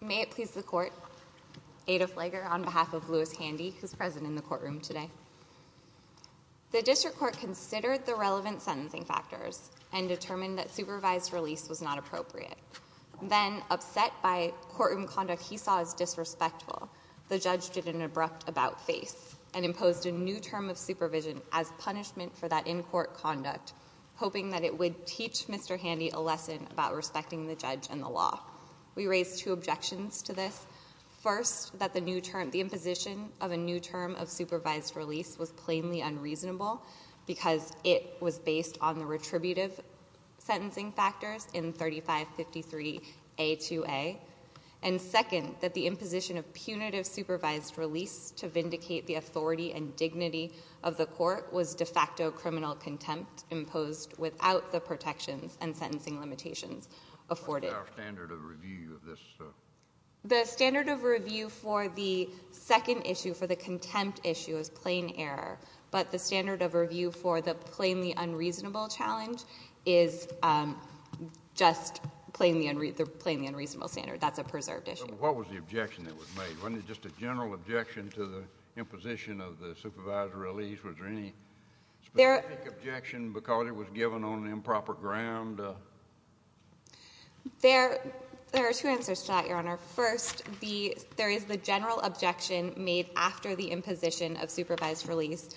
May it please the court, Ada Flager on behalf of Louis Handy, who is present in the courtroom today. The district court considered the relevant sentencing factors and determined that supervised release was not appropriate. Then upset by courtroom conduct he saw as disrespectful, the judge did an abrupt about-face and imposed a new term of supervision as punishment for that in-court conduct, hoping that it would teach Mr. Handy a lesson about respecting the judge and the law. We raise two objections to this. First, that the imposition of a new term of supervised release was plainly unreasonable because it was based on the retributive sentencing factors in 3553A2A. And second, that the imposition of punitive supervised release to vindicate the authority and dignity of the court was de facto criminal contempt imposed without the protections and sentencing limitations afforded. The standard of review for the second issue, for the contempt issue, is plain error. But the standard of review for the plainly unreasonable challenge is just the plainly unreasonable standard. That's a preserved issue. But what was the objection that was made? Wasn't it just a general objection to the imposition of the supervised release? Was there any specific objection because it was given on improper ground? There are two answers to that, Your Honor. First, there is the general objection made after the imposition of supervised release.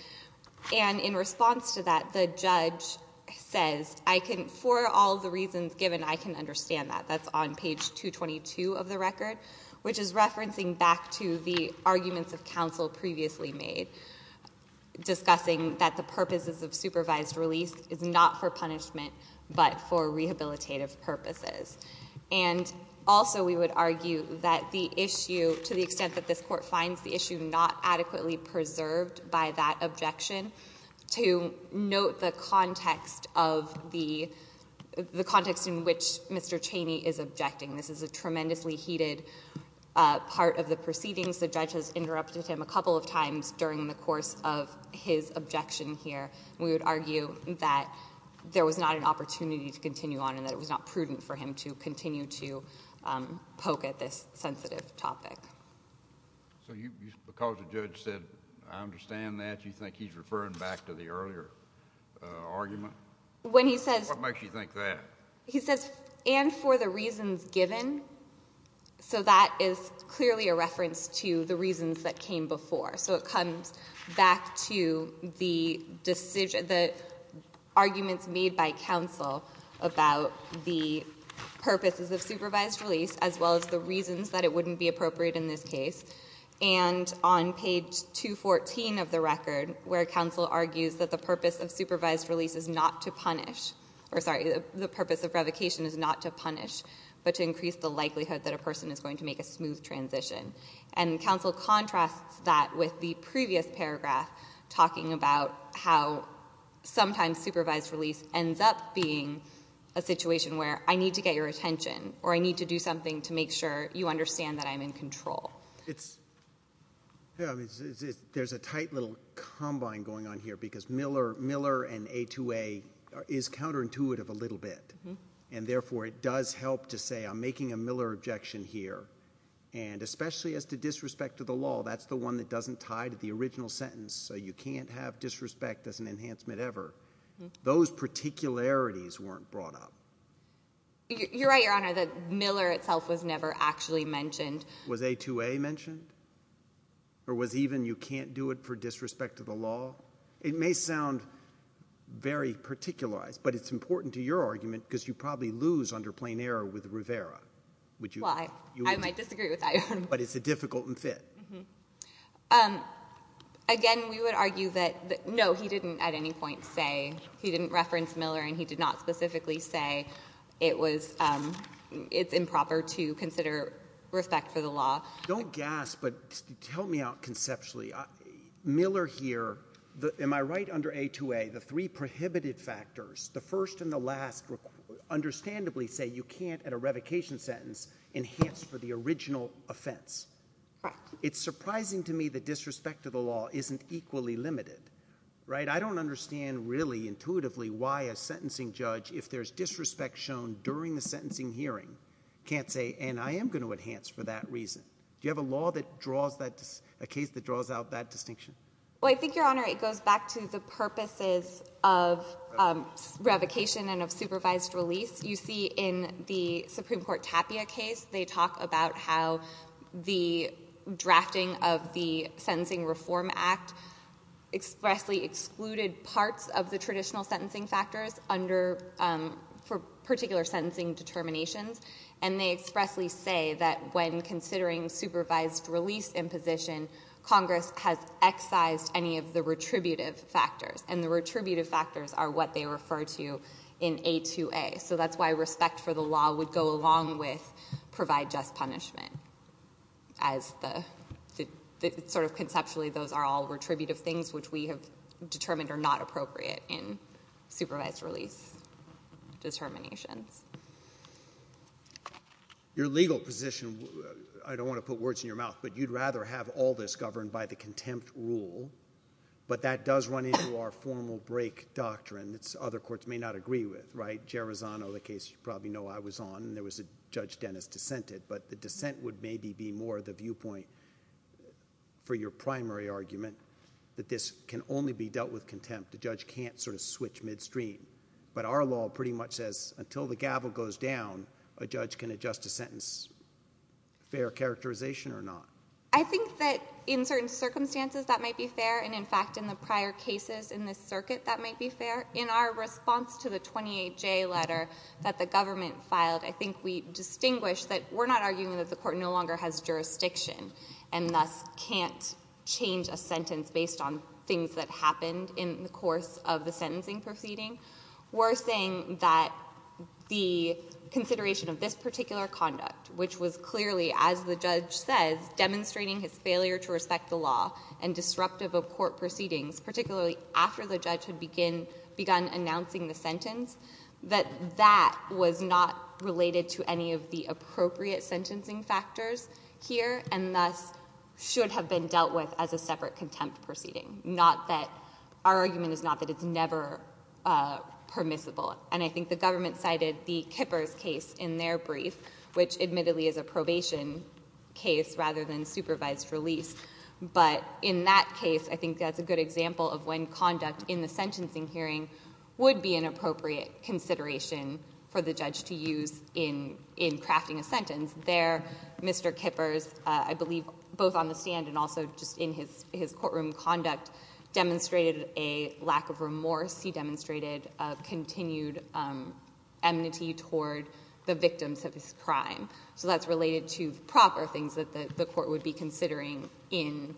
And in response to that, the judge says, for all the reasons given, I can understand that. That's on page 222 of the record, which is referencing back to the arguments of counsel previously made, discussing that the purposes of supervised release is not for punishment but for rehabilitative purposes. And also we would argue that the issue, to the extent that this Court finds the issue not adequately preserved by that objection, to note the context of the — the context in which Mr. Cheney is objecting. This is a tremendously heated part of the proceedings. The judge has interrupted him a couple of times during the course of his objection here, and we would argue that there was not an opportunity to continue on and that it was not prudent for him to continue to poke at this sensitive topic. So you — because the judge said, I understand that, you think he's referring back to the earlier argument? When he says — What makes you think that? He says, and for the reasons given. So that is clearly a reference to the reasons that came before. So it comes back to the arguments made by counsel about the purposes of supervised release as well as the reasons that it wouldn't be appropriate in this case. And on page 214 of the record, where counsel argues that the purpose of supervised release is not to punish — or, sorry, the purpose of revocation is not to punish but to increase the likelihood that a person is going to make a smooth transition. And counsel contrasts that with the previous paragraph talking about how sometimes supervised release ends up being a situation where I need to get your attention or I need to do something to make sure you understand that I'm in control. It's — yeah, I mean, there's a tight little combine going on here because Miller and A2A is counterintuitive a little bit, and therefore it does help to say I'm making a Miller objection here. And especially as to disrespect to the law, that's the one that doesn't tie to the original sentence. So you can't have disrespect as an enhancement ever. Those particularities weren't brought up. You're right, Your Honor, that Miller itself was never actually mentioned. Was A2A mentioned? Or was even you can't do it for disrespect to the law? It may sound very particularized, but it's important to your argument because you probably lose under plain error with Rivera. Would you — Well, I might disagree with that, Your Honor. But it's a difficult and fit. Again, we would argue that — no, he didn't at any point say — he didn't reference Miller and he did not specifically say it was — it's improper to consider respect for the law. Don't gasp, but help me out conceptually. Miller here — am I right under A2A, the three prohibited factors, the first and the last, understandably say you can't at a revocation sentence enhance for the original offense? Correct. It's surprising to me that disrespect to the law isn't equally limited, right? I don't understand really intuitively why a sentencing judge, if there's disrespect shown during the sentencing hearing, can't say, and I am going to enhance for that reason. Do you have a law that draws that — a case that draws out that distinction? Well, I think, Your Honor, it goes back to the purposes of revocation and of supervised release. You see in the Supreme Court Tapia case, they talk about how the drafting of the Sentencing Reform Act expressly excluded parts of the traditional sentencing factors under — for particular sentencing determinations. And they expressly say that when considering supervised release imposition, Congress has excised any of the retributive factors, and the retributive factors are what they refer to in A2A. So that's why respect for the law would go along with provide just punishment as the — sort of conceptually, those are all retributive things which we have determined are not appropriate in supervised release determinations. Your legal position — I don't want to put words in your mouth, but you'd rather have all this governed by the contempt rule, but that does run into our formal break doctrine that other courts may not agree with, right? Gerizano, the case you probably know I was on, and there was a Judge Dennis dissented, but the dissent would maybe be more the viewpoint for your primary argument that this can only be dealt with contempt. The judge can't sort of switch midstream. But our law pretty much says until the gavel goes down, a judge can adjust a sentence. Fair characterization or not? I think that in certain circumstances, that might be fair, and in fact, in the prior cases in this circuit, that might be fair. In our response to the 28J letter that the government filed, I think we distinguished that we're not arguing that the Court no longer has jurisdiction and thus can't change a sentence based on things that happened in the course of the sentencing proceeding. We're saying that the consideration of this particular conduct, which was clearly, as the judge says, demonstrating his failure to respect the law and disruptive of court proceedings, particularly after the judge had begun announcing the sentence, that that was not related to any of the appropriate sentencing factors here and thus should have been dealt with as a separate contempt proceeding. Not that, our argument is not that it's never permissible. And I think the government cited the Kippers case in their brief, which admittedly is a case rather than supervised release. But in that case, I think that's a good example of when conduct in the sentencing hearing would be an appropriate consideration for the judge to use in crafting a sentence. There, Mr. Kippers, I believe both on the stand and also just in his courtroom conduct, demonstrated a lack of remorse. He demonstrated a continued enmity toward the victims of his crime. So that's related to proper things that the court would be considering in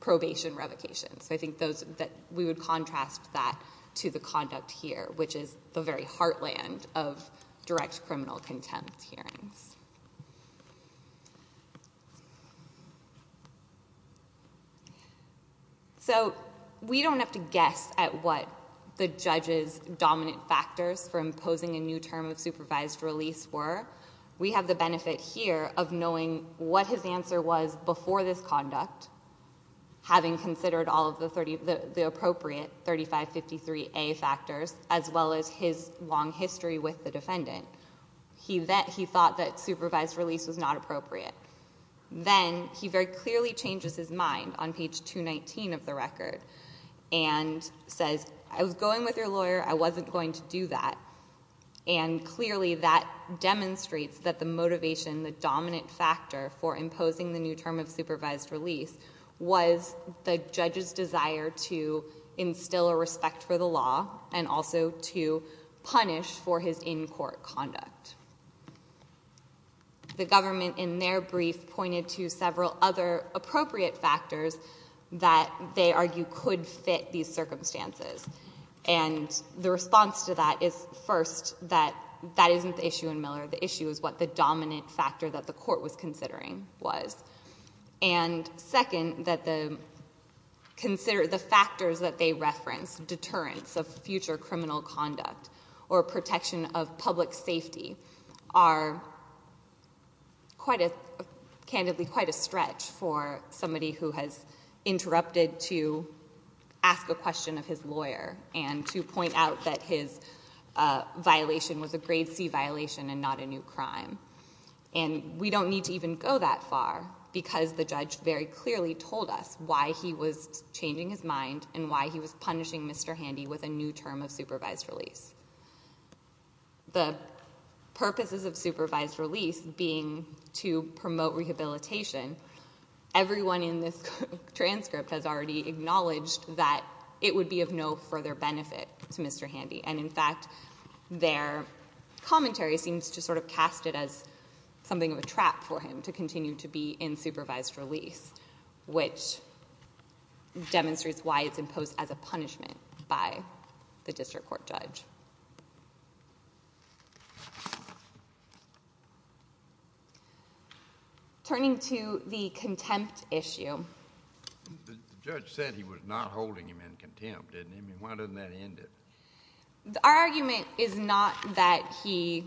probation revocation. So I think those, that we would contrast that to the conduct here, which is the very heartland of direct criminal contempt hearings. So we don't have to guess at what the judge's dominant factors for imposing a new term of supervised release were. We have the benefit here of knowing what his answer was before this conduct, having considered all of the appropriate 3553A factors, as well as his long history with the defendant. He thought that supervised release was not appropriate. Then, he very clearly changes his mind on page 219 of the record and says, I was going with your lawyer, I wasn't going to do that. And clearly, that demonstrates that the motivation, the dominant factor for imposing the new term of supervised release was the judge's desire to instill a respect for the law, and also to punish for his in-court conduct. The government, in their brief, pointed to several other appropriate factors that they argue could fit these circumstances. And the response to that is, first, that that isn't the issue in Miller. The issue is what the dominant factor that the court was considering was. And second, that the factors that they referenced, deterrence of future criminal conduct, or protection of public safety, are, candidly, quite a stretch for somebody who has interrupted to ask a question of his lawyer and to point out that his violation was a grade C violation and not a new crime. And we don't need to even go that far, because the judge very clearly told us why he was changing his mind and why he was punishing Mr. Handy with a new term of supervised release. The purposes of supervised release being to promote rehabilitation. Everyone in this transcript has already acknowledged that it would be of no further benefit to Mr. Handy. And in fact, their commentary seems to sort of cast it as something of a trap for him to continue to be in supervised release, which demonstrates why it's imposed as a punishment by the district court judge. Turning to the contempt issue. The judge said he was not holding him in contempt, didn't he? I mean, why doesn't that end it? Our argument is not that he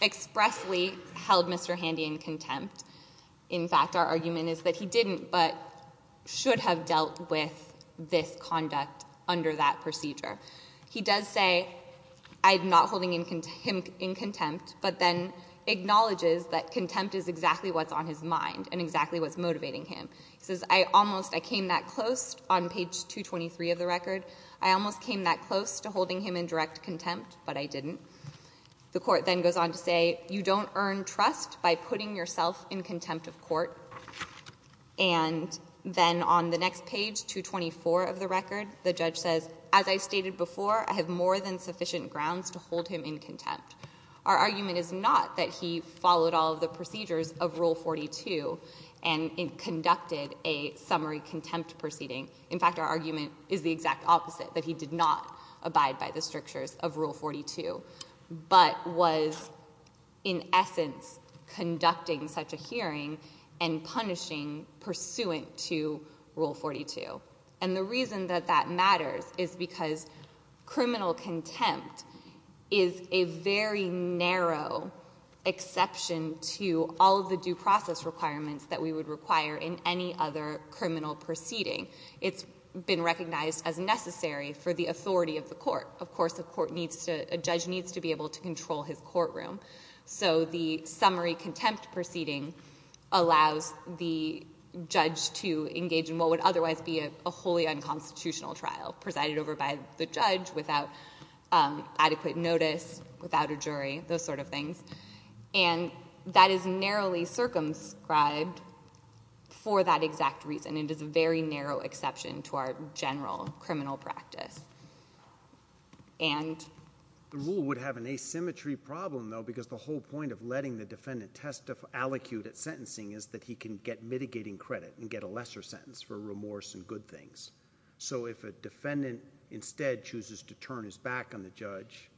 expressly held Mr. Handy in contempt. In fact, our argument is that he didn't, but should have dealt with this conduct under that procedure. He does say, I'm not holding him in contempt, but then acknowledges that contempt is exactly what's on his mind and exactly what's motivating him. He says, I almost, I came that close on page 223 of the record. I almost came that close to holding him in direct contempt, but I didn't. The court then goes on to say, you don't earn trust by putting yourself in contempt of court. And then on the next page, 224 of the record, the judge says, as I stated before, I have more than sufficient grounds to hold him in contempt. Our argument is not that he followed all of the procedures of Rule 42 and conducted a summary contempt proceeding. In fact, our argument is the exact opposite, that he did not abide by the strictures of Rule 42, but was in essence conducting such a hearing and punishing pursuant to Rule 42. And the reason that that matters is because criminal contempt is a very narrow exception to all of the due process requirements that we would require in any other criminal proceeding. It's been recognized as necessary for the authority of the court. Of course, a judge needs to be able to control his courtroom. So the summary contempt proceeding allows the judge to engage in what would otherwise be a wholly unconstitutional trial, presided over by the judge without adequate notice, without a jury, those sort of things, and that is narrowly circumscribed for that exact reason. It is a very narrow exception to our general criminal practice, and- The rule would have an asymmetry problem, though, because the whole point of letting the defendant testif- allocute at sentencing is that he can get mitigating credit and get a lesser sentence for remorse and good things. So if a defendant instead chooses to turn his back on the judge,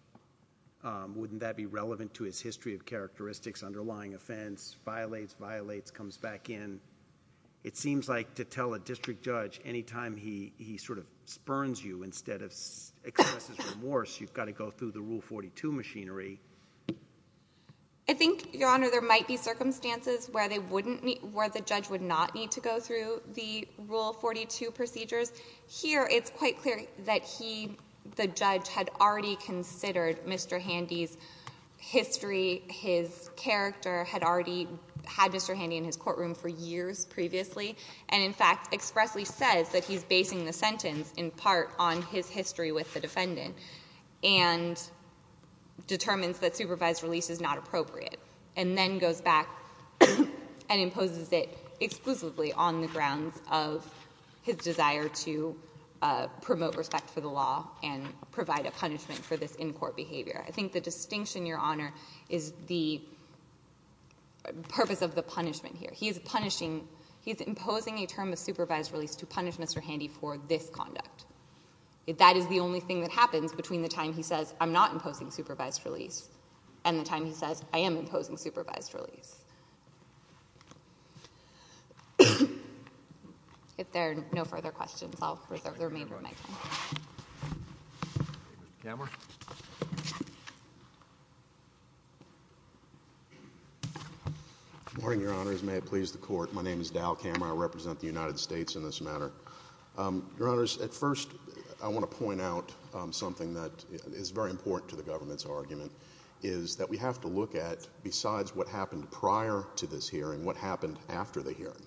wouldn't that be relevant to his history of characteristics, underlying offense, violates, violates, comes back in? It seems like to tell a district judge, any time he sort of spurns you instead of expresses remorse, you've got to go through the Rule 42 machinery. I think, Your Honor, there might be circumstances where the judge would not need to go through the Rule 42 procedures. Here, it's quite clear that he, the judge, had already considered Mr. Handy's history, his character, had already had Mr. Handy in his courtroom for years previously, and in fact, expressly says that he's basing the sentence, in part, on his history with the defendant, and determines that supervised release is not appropriate. And then goes back and imposes it exclusively on the grounds of his desire to promote respect for the law and provide a punishment for this in-court behavior. I think the distinction, Your Honor, is the purpose of the punishment here. He's punishing, he's imposing a term of supervised release to punish Mr. Handy for this conduct. That is the only thing that happens between the time he says, I'm not imposing supervised release, and the time he says, I am imposing supervised release. If there are no further questions, I'll reserve the remainder of my time. Mr. Kammerer. Good morning, Your Honors. May it please the Court. My name is Dal Kammerer. I represent the United States in this matter. Your Honors, at first, I want to point out something that is very important to the government's argument, is that we have to look at, besides what happened prior to this hearing, what happened after the hearing.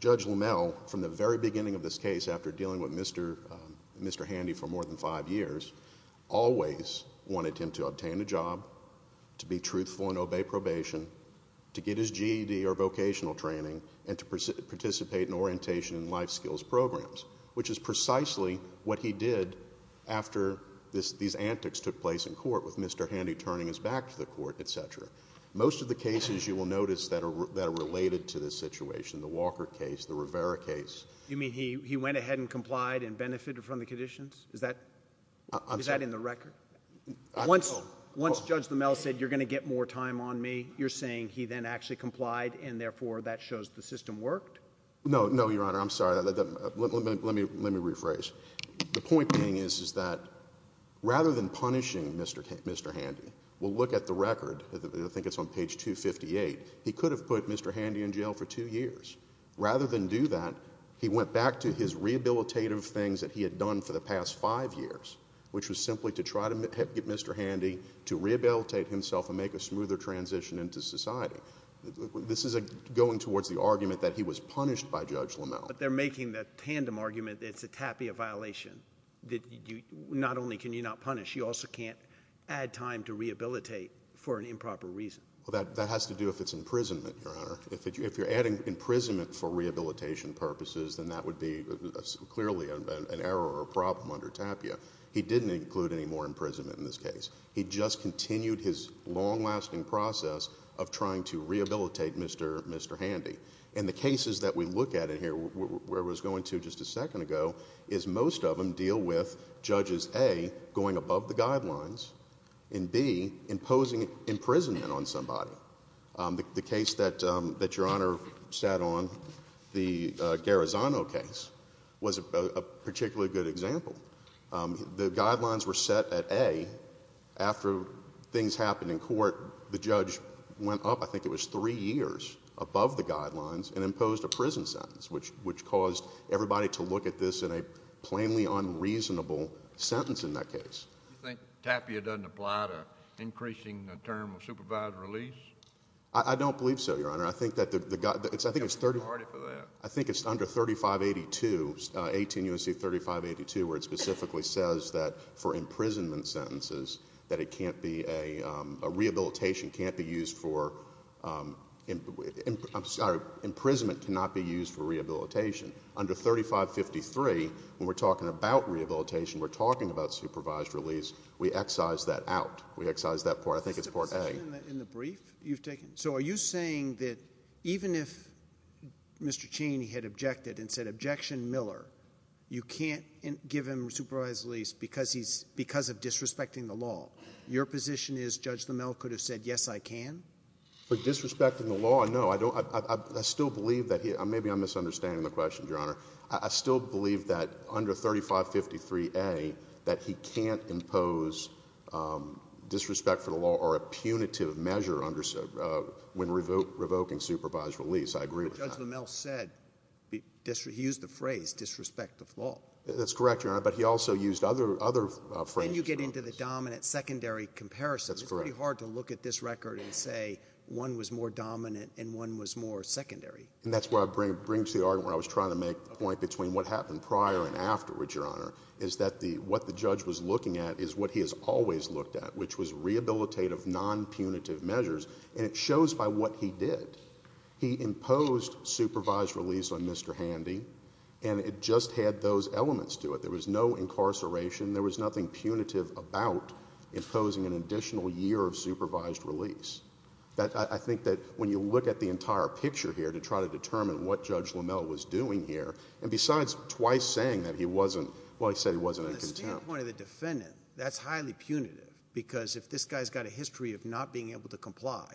Judge Limmel, from the very beginning of this case, after dealing with Mr. Handy for more than five years, always wanted him to obtain a job, to be truthful and obey probation, to get his GED or vocational training, and to participate in orientation and life skills programs, which is precisely what he did after these antics took place in court with Mr. Handy turning his back to the court, etc. Most of the cases, you will notice, that are related to this situation, the Walker case, the Rivera case. You mean he went ahead and complied and benefited from the conditions? Is that in the record? Once Judge Limmel said, you're going to get more time on me, you're saying he then actually complied, and therefore that shows the system worked? No, Your Honor. I'm sorry. Let me rephrase. The point being is that rather than punishing Mr. Handy, we'll look at the record, I think it's on page 258, he could have put Mr. Handy in jail for two years. Rather than do that, he went back to his rehabilitative things that he had done for the past five years, which was simply to try to get Mr. Handy to rehabilitate himself and make a smoother transition into society. This is going towards the argument that he was punished by Judge Limmel. But they're making the tandem argument that it's a TAPIA violation, that not only can you not punish, you also can't add time to rehabilitate for an improper reason. That has to do if it's imprisonment, Your Honor. If you're adding imprisonment for rehabilitation purposes, then that would be clearly an error or a problem under TAPIA. He didn't include any more imprisonment in this case. He just continued his long-lasting process of trying to rehabilitate Mr. Handy. And the cases that we look at in here, where I was going to just a second ago, is most of them deal with Judges A, going above the guidelines, and B, imposing imprisonment on somebody. The case that Your Honor sat on, the Garazano case, was a particularly good example. The guidelines were set at A. After things happened in court, the judge went up, I think it was three years, above the guidelines and imposed a prison sentence, which caused everybody to look at this in a plainly unreasonable sentence in that case. You think TAPIA doesn't apply to increasing the term of supervised release? I don't believe so, Your Honor. I think it's under 3582, 18 U.S.C. 3582, where it specifically says that for imprisonment sentences, that it can't be a rehabilitation, can't be used for, I'm sorry, imprisonment cannot be used for rehabilitation. Under 3553, when we're talking about rehabilitation, we're talking about supervised release. We excise that out. We excise that part. I think it's part A. So are you saying that even if Mr. Cheney had objected and said, you can't give him supervised release because of disrespecting the law, your position is Judge Limmel could have said, yes, I can? For disrespecting the law, no. I still believe that he, maybe I'm misunderstanding the question, Your Honor. I still believe that under 3553A, that he can't impose disrespect for the law or a punitive measure when revoking supervised release. I agree with that. Judge Limmel said, he used the phrase disrespect the law. That's correct, Your Honor, but he also used other phrases. And you get into the dominant secondary comparison. That's correct. It's pretty hard to look at this record and say one was more dominant and one was more secondary. And that's where I bring to the argument where I was trying to make a point between what happened prior and afterwards, Your Honor, is that what the judge was looking at is what he has always looked at, which was rehabilitative, non-punitive measures, and it shows by what he did. He imposed supervised release on Mr. Handy, and it just had those elements to it. There was no incarceration. There was nothing punitive about imposing an additional year of supervised release. I think that when you look at the entire picture here to try to determine what Judge Limmel was doing here, and besides twice saying that he wasn't, well, he said he wasn't in contempt. From the standpoint of the defendant, that's highly punitive because if this guy's got a history of not being able to comply,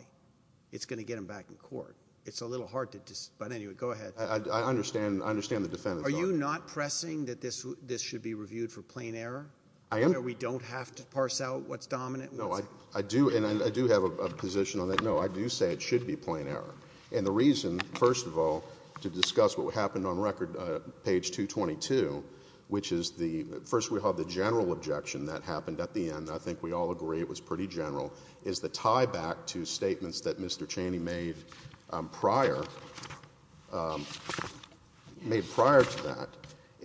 it's going to get him back in court. It's a little hard to decide. But anyway, go ahead. I understand the defendant's argument. Are you not pressing that this should be reviewed for plain error? I am. Where we don't have to parse out what's dominant? No, I do, and I do have a position on that. No, I do say it should be plain error. And the reason, first of all, to discuss what happened on record, page 222, which is the first we have the general objection that happened at the end, and I think we all agree it was pretty general, is the tie back to statements that Mr. Chaney made prior, made prior to that.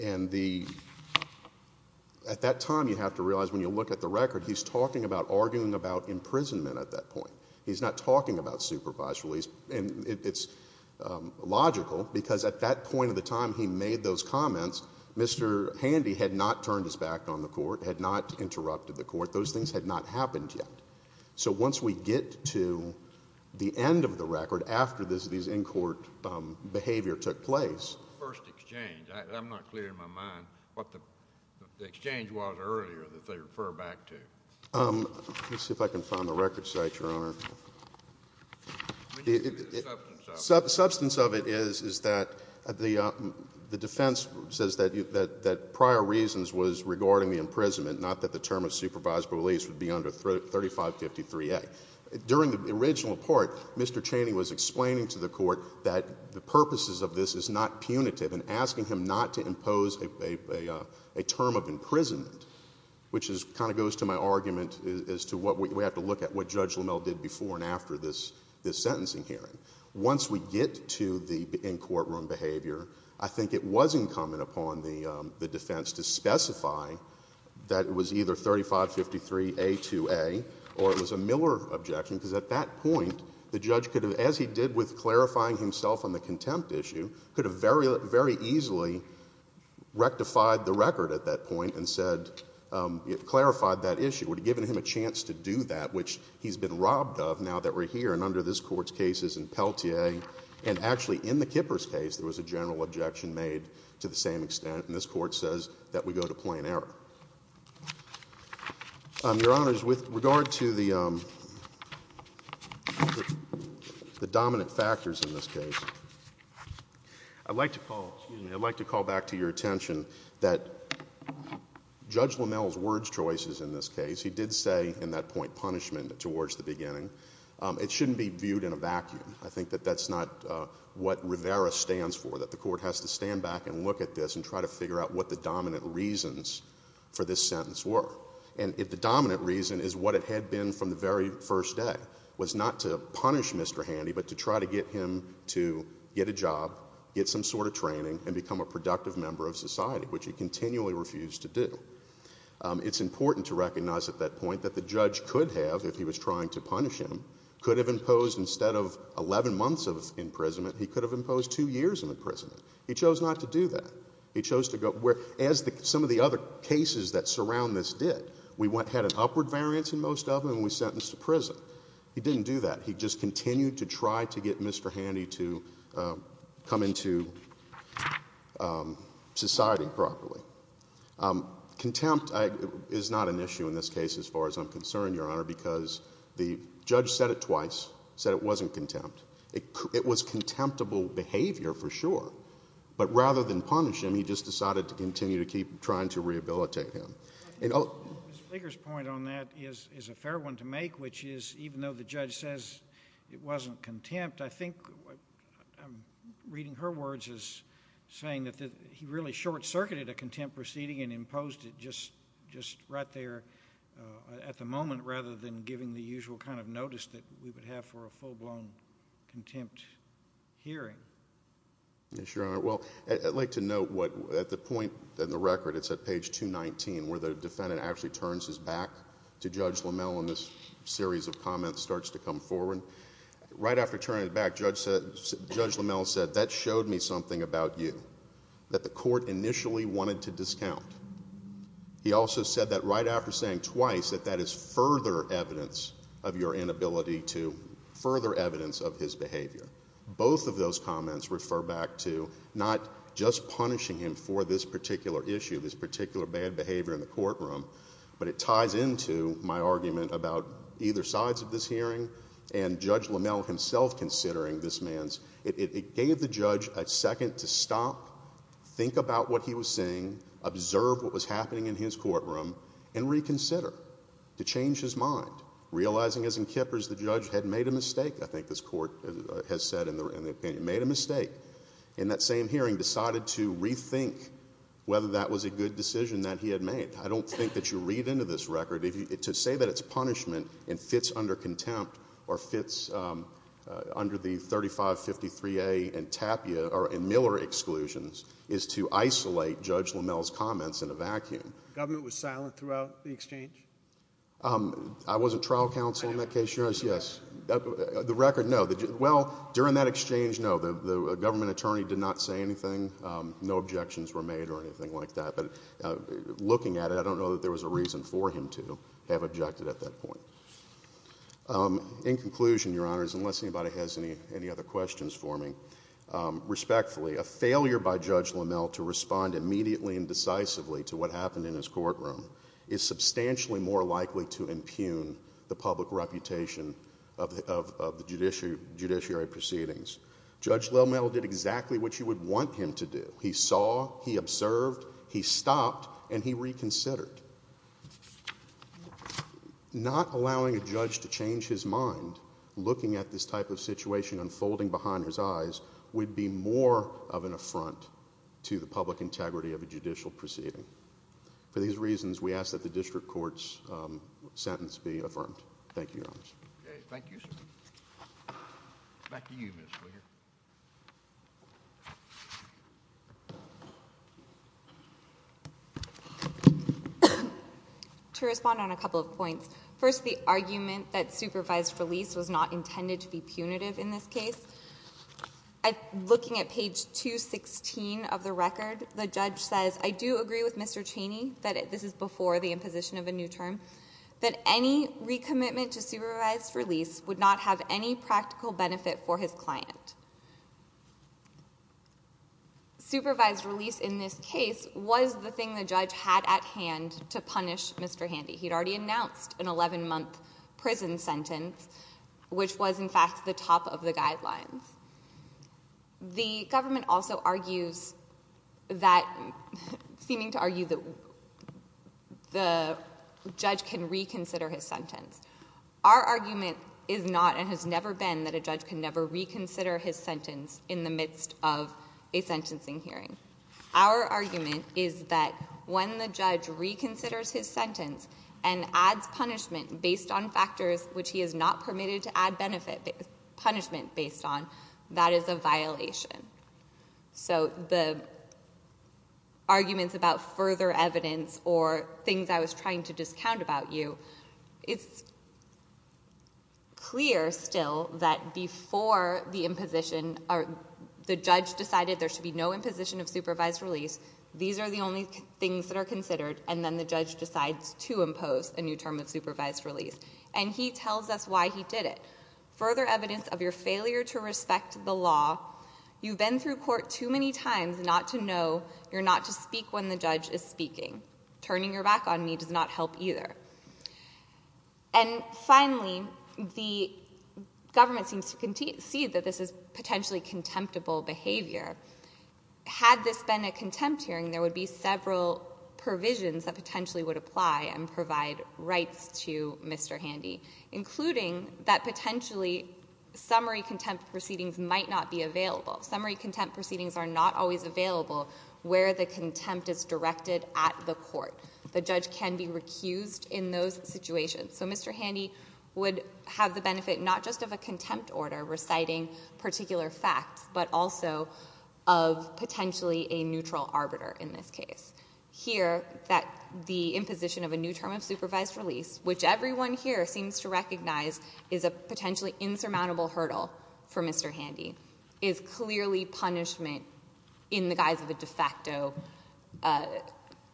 And the, at that time you have to realize when you look at the record, he's talking about arguing about imprisonment at that point. He's not talking about supervised release. And it's logical because at that point of the time he made those comments, Mr. Handy had not turned his back on the court, had not interrupted the court. Those things had not happened yet. So once we get to the end of the record after these in-court behavior took place. First exchange. I'm not clear in my mind what the exchange was earlier that they refer back to. Let's see if I can find the record site, Your Honor. Substance of it is that the defense says that prior reasons was regarding the imprisonment, not that the term of supervised release would be under 3553A. During the original report, Mr. Chaney was explaining to the court that the purposes of this is not punitive and asking him not to impose a term of imprisonment, which kind of goes to my argument as to what we have to look at, what Judge Lamel did before and after this sentencing hearing. Once we get to the in-courtroom behavior, I think it was incumbent upon the defense to specify that it was either 3553A2A or it was a Miller objection because at that point the judge could have, as he did with clarifying himself on the contempt issue, could have very, very easily rectified the record at that point and said, clarified that issue, would have given him a chance to do that, which he's been robbed of now that we're here and under this Court's cases in Pelletier and actually in the Kippers case there was a general objection made to the same extent and this Court says that we go to plain error. Your Honors, with regard to the dominant factors in this case, I'd like to call back to your attention that Judge Lamel's word choices in this case, he did say in that point punishment towards the beginning. It shouldn't be viewed in a vacuum. I think that that's not what Rivera stands for, that the Court has to stand back and look at this and try to figure out what the dominant reasons for this sentence were. And if the dominant reason is what it had been from the very first day, was not to punish Mr. Handy but to try to get him to get a job, get some sort of training and become a productive member of society, which he continually refused to do. It's important to recognize at that point that the judge could have, if he was trying to punish him, could have imposed instead of 11 months of imprisonment, he could have imposed two years of imprisonment. He chose not to do that. He chose to go where, as some of the other cases that surround this did, we had an upward variance in most of them and we sentenced to prison. He didn't do that. He just continued to try to get Mr. Handy to come into society properly. Contempt is not an issue in this case as far as I'm concerned, Your Honor, because the judge said it twice, said it wasn't contempt. It was contemptible behavior for sure. But rather than punish him, he just decided to continue to keep trying to rehabilitate him. Mr. Speaker's point on that is a fair one to make, which is even though the judge says it wasn't contempt, I think I'm reading her words as saying that he really short-circuited a contempt proceeding and imposed it just right there at the moment rather than giving the usual kind of notice that we would have for a full-blown contempt hearing. Yes, Your Honor. Well, I'd like to note at the point in the record, it's at page 219, where the defendant actually turns his back to Judge Lamell and this series of comments starts to come forward. Right after turning it back, Judge Lamell said, that showed me something about you that the court initially wanted to discount. He also said that right after saying twice, that that is further evidence of your inability to further evidence of his behavior. Both of those comments refer back to not just punishing him for this particular issue, this particular bad behavior in the courtroom, but it ties into my argument about either sides of this hearing and Judge Lamell himself considering this man's. It gave the judge a second to stop, think about what he was saying, observe what was happening in his courtroom, and reconsider to change his mind. Realizing as in Kippers, the judge had made a mistake, I think this court has said in the opinion, made a mistake. In that same hearing, decided to rethink whether that was a good decision that he had made. I don't think that you read into this record. To say that it's punishment and fits under contempt or fits under the 3553A and Miller exclusions is to isolate Judge Lamell's comments in a vacuum. The government was silent throughout the exchange? I wasn't trial counsel in that case, Your Honor, yes. The record, no. Well, during that exchange, no. The government attorney did not say anything. No objections were made or anything like that. But looking at it, I don't know that there was a reason for him to have objected at that point. In conclusion, Your Honors, unless anybody has any other questions for me, respectfully, a failure by Judge Lamell to respond immediately and decisively to what happened in his courtroom is substantially more likely to impugn the public reputation of the judiciary proceedings. Judge Lamell did exactly what you would want him to do. He saw, he observed, he stopped, and he reconsidered. Not allowing a judge to change his mind, looking at this type of situation unfolding behind his eyes, would be more of an affront to the public integrity of a judicial proceeding. For these reasons, we ask that the district court's sentence be affirmed. Thank you, Your Honors. Thank you, sir. Back to you, Mr. Lear. To respond on a couple of points. First, the argument that supervised release was not intended to be punitive in this case. Looking at page 216 of the record, the judge says, I do agree with Mr. Cheney, that this is before the imposition of a new term, that any recommitment to supervised release would not have any practical benefit for his client. Supervised release in this case was the thing the judge had at hand to punish Mr. Handy. He had already announced an 11-month prison sentence, which was, in fact, the top of the guidelines. The government also argues that, seeming to argue that the judge can reconsider his sentence. Our argument is not and has never been that a judge can never reconsider his sentence in the midst of a sentencing hearing. Our argument is that when the judge reconsiders his sentence and adds punishment based on factors which he is not permitted to add benefit, punishment based on, that is a violation. So the arguments about further evidence or things I was trying to discount about you, it's clear still that before the imposition, the judge decided there should be no imposition of supervised release. These are the only things that are considered, and then the judge decides to impose a new term of supervised release. And he tells us why he did it. Further evidence of your failure to respect the law, you've been through court too many times not to know you're not to speak when the judge is speaking. Turning your back on me does not help either. And finally, the government seems to concede that this is potentially contemptible behavior. Had this been a contempt hearing, there would be several provisions that potentially would apply and provide rights to Mr. Handy, including that potentially summary contempt proceedings might not be available. Summary contempt proceedings are not always available where the contempt is directed at the court. The judge can be recused in those situations. So Mr. Handy would have the benefit not just of a contempt order reciting particular facts, but also of potentially a neutral arbiter in this case. Here, the imposition of a new term of supervised release, which everyone here seems to recognize is a potentially insurmountable hurdle for Mr. Handy, is clearly punishment in the guise of a de facto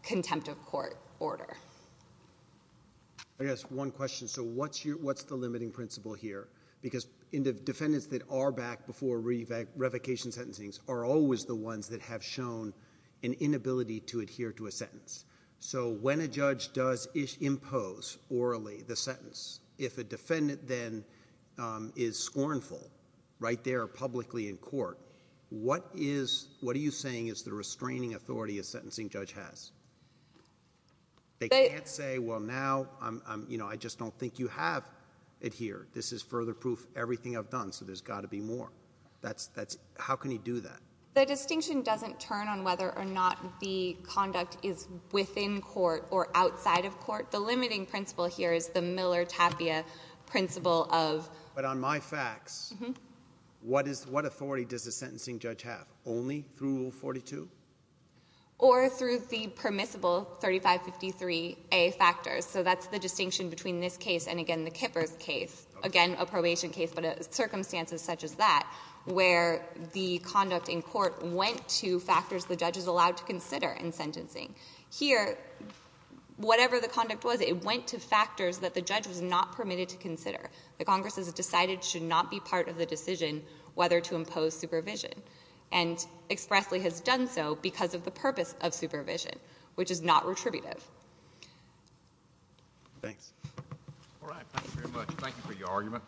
contempt of court order. I guess one question. So what's the limiting principle here? Because defendants that are back before revocation sentencing are always the ones that have shown an inability to adhere to a sentence. So when a judge does impose orally the sentence, if a defendant then is scornful right there publicly in court, what are you saying is the restraining authority a sentencing judge has? They can't say, well, now I just don't think you have adhered. This is further proof of everything I've done, so there's got to be more. How can he do that? The distinction doesn't turn on whether or not the conduct is within court or outside of court. The limiting principle here is the Miller-Tapia principle of — But on my facts, what authority does a sentencing judge have? Only through Rule 42? Or through the permissible 3553A factors. So that's the distinction between this case and, again, the Kippers case. Again, a probation case, but circumstances such as that, where the conduct in court went to factors the judge is allowed to consider in sentencing. Here, whatever the conduct was, it went to factors that the judge was not permitted to consider. The Congress has decided it should not be part of the decision whether to impose supervision, and expressly has done so because of the purpose of supervision, which is not retributive. Thanks. All right. Thank you very much. Thank you for your argument.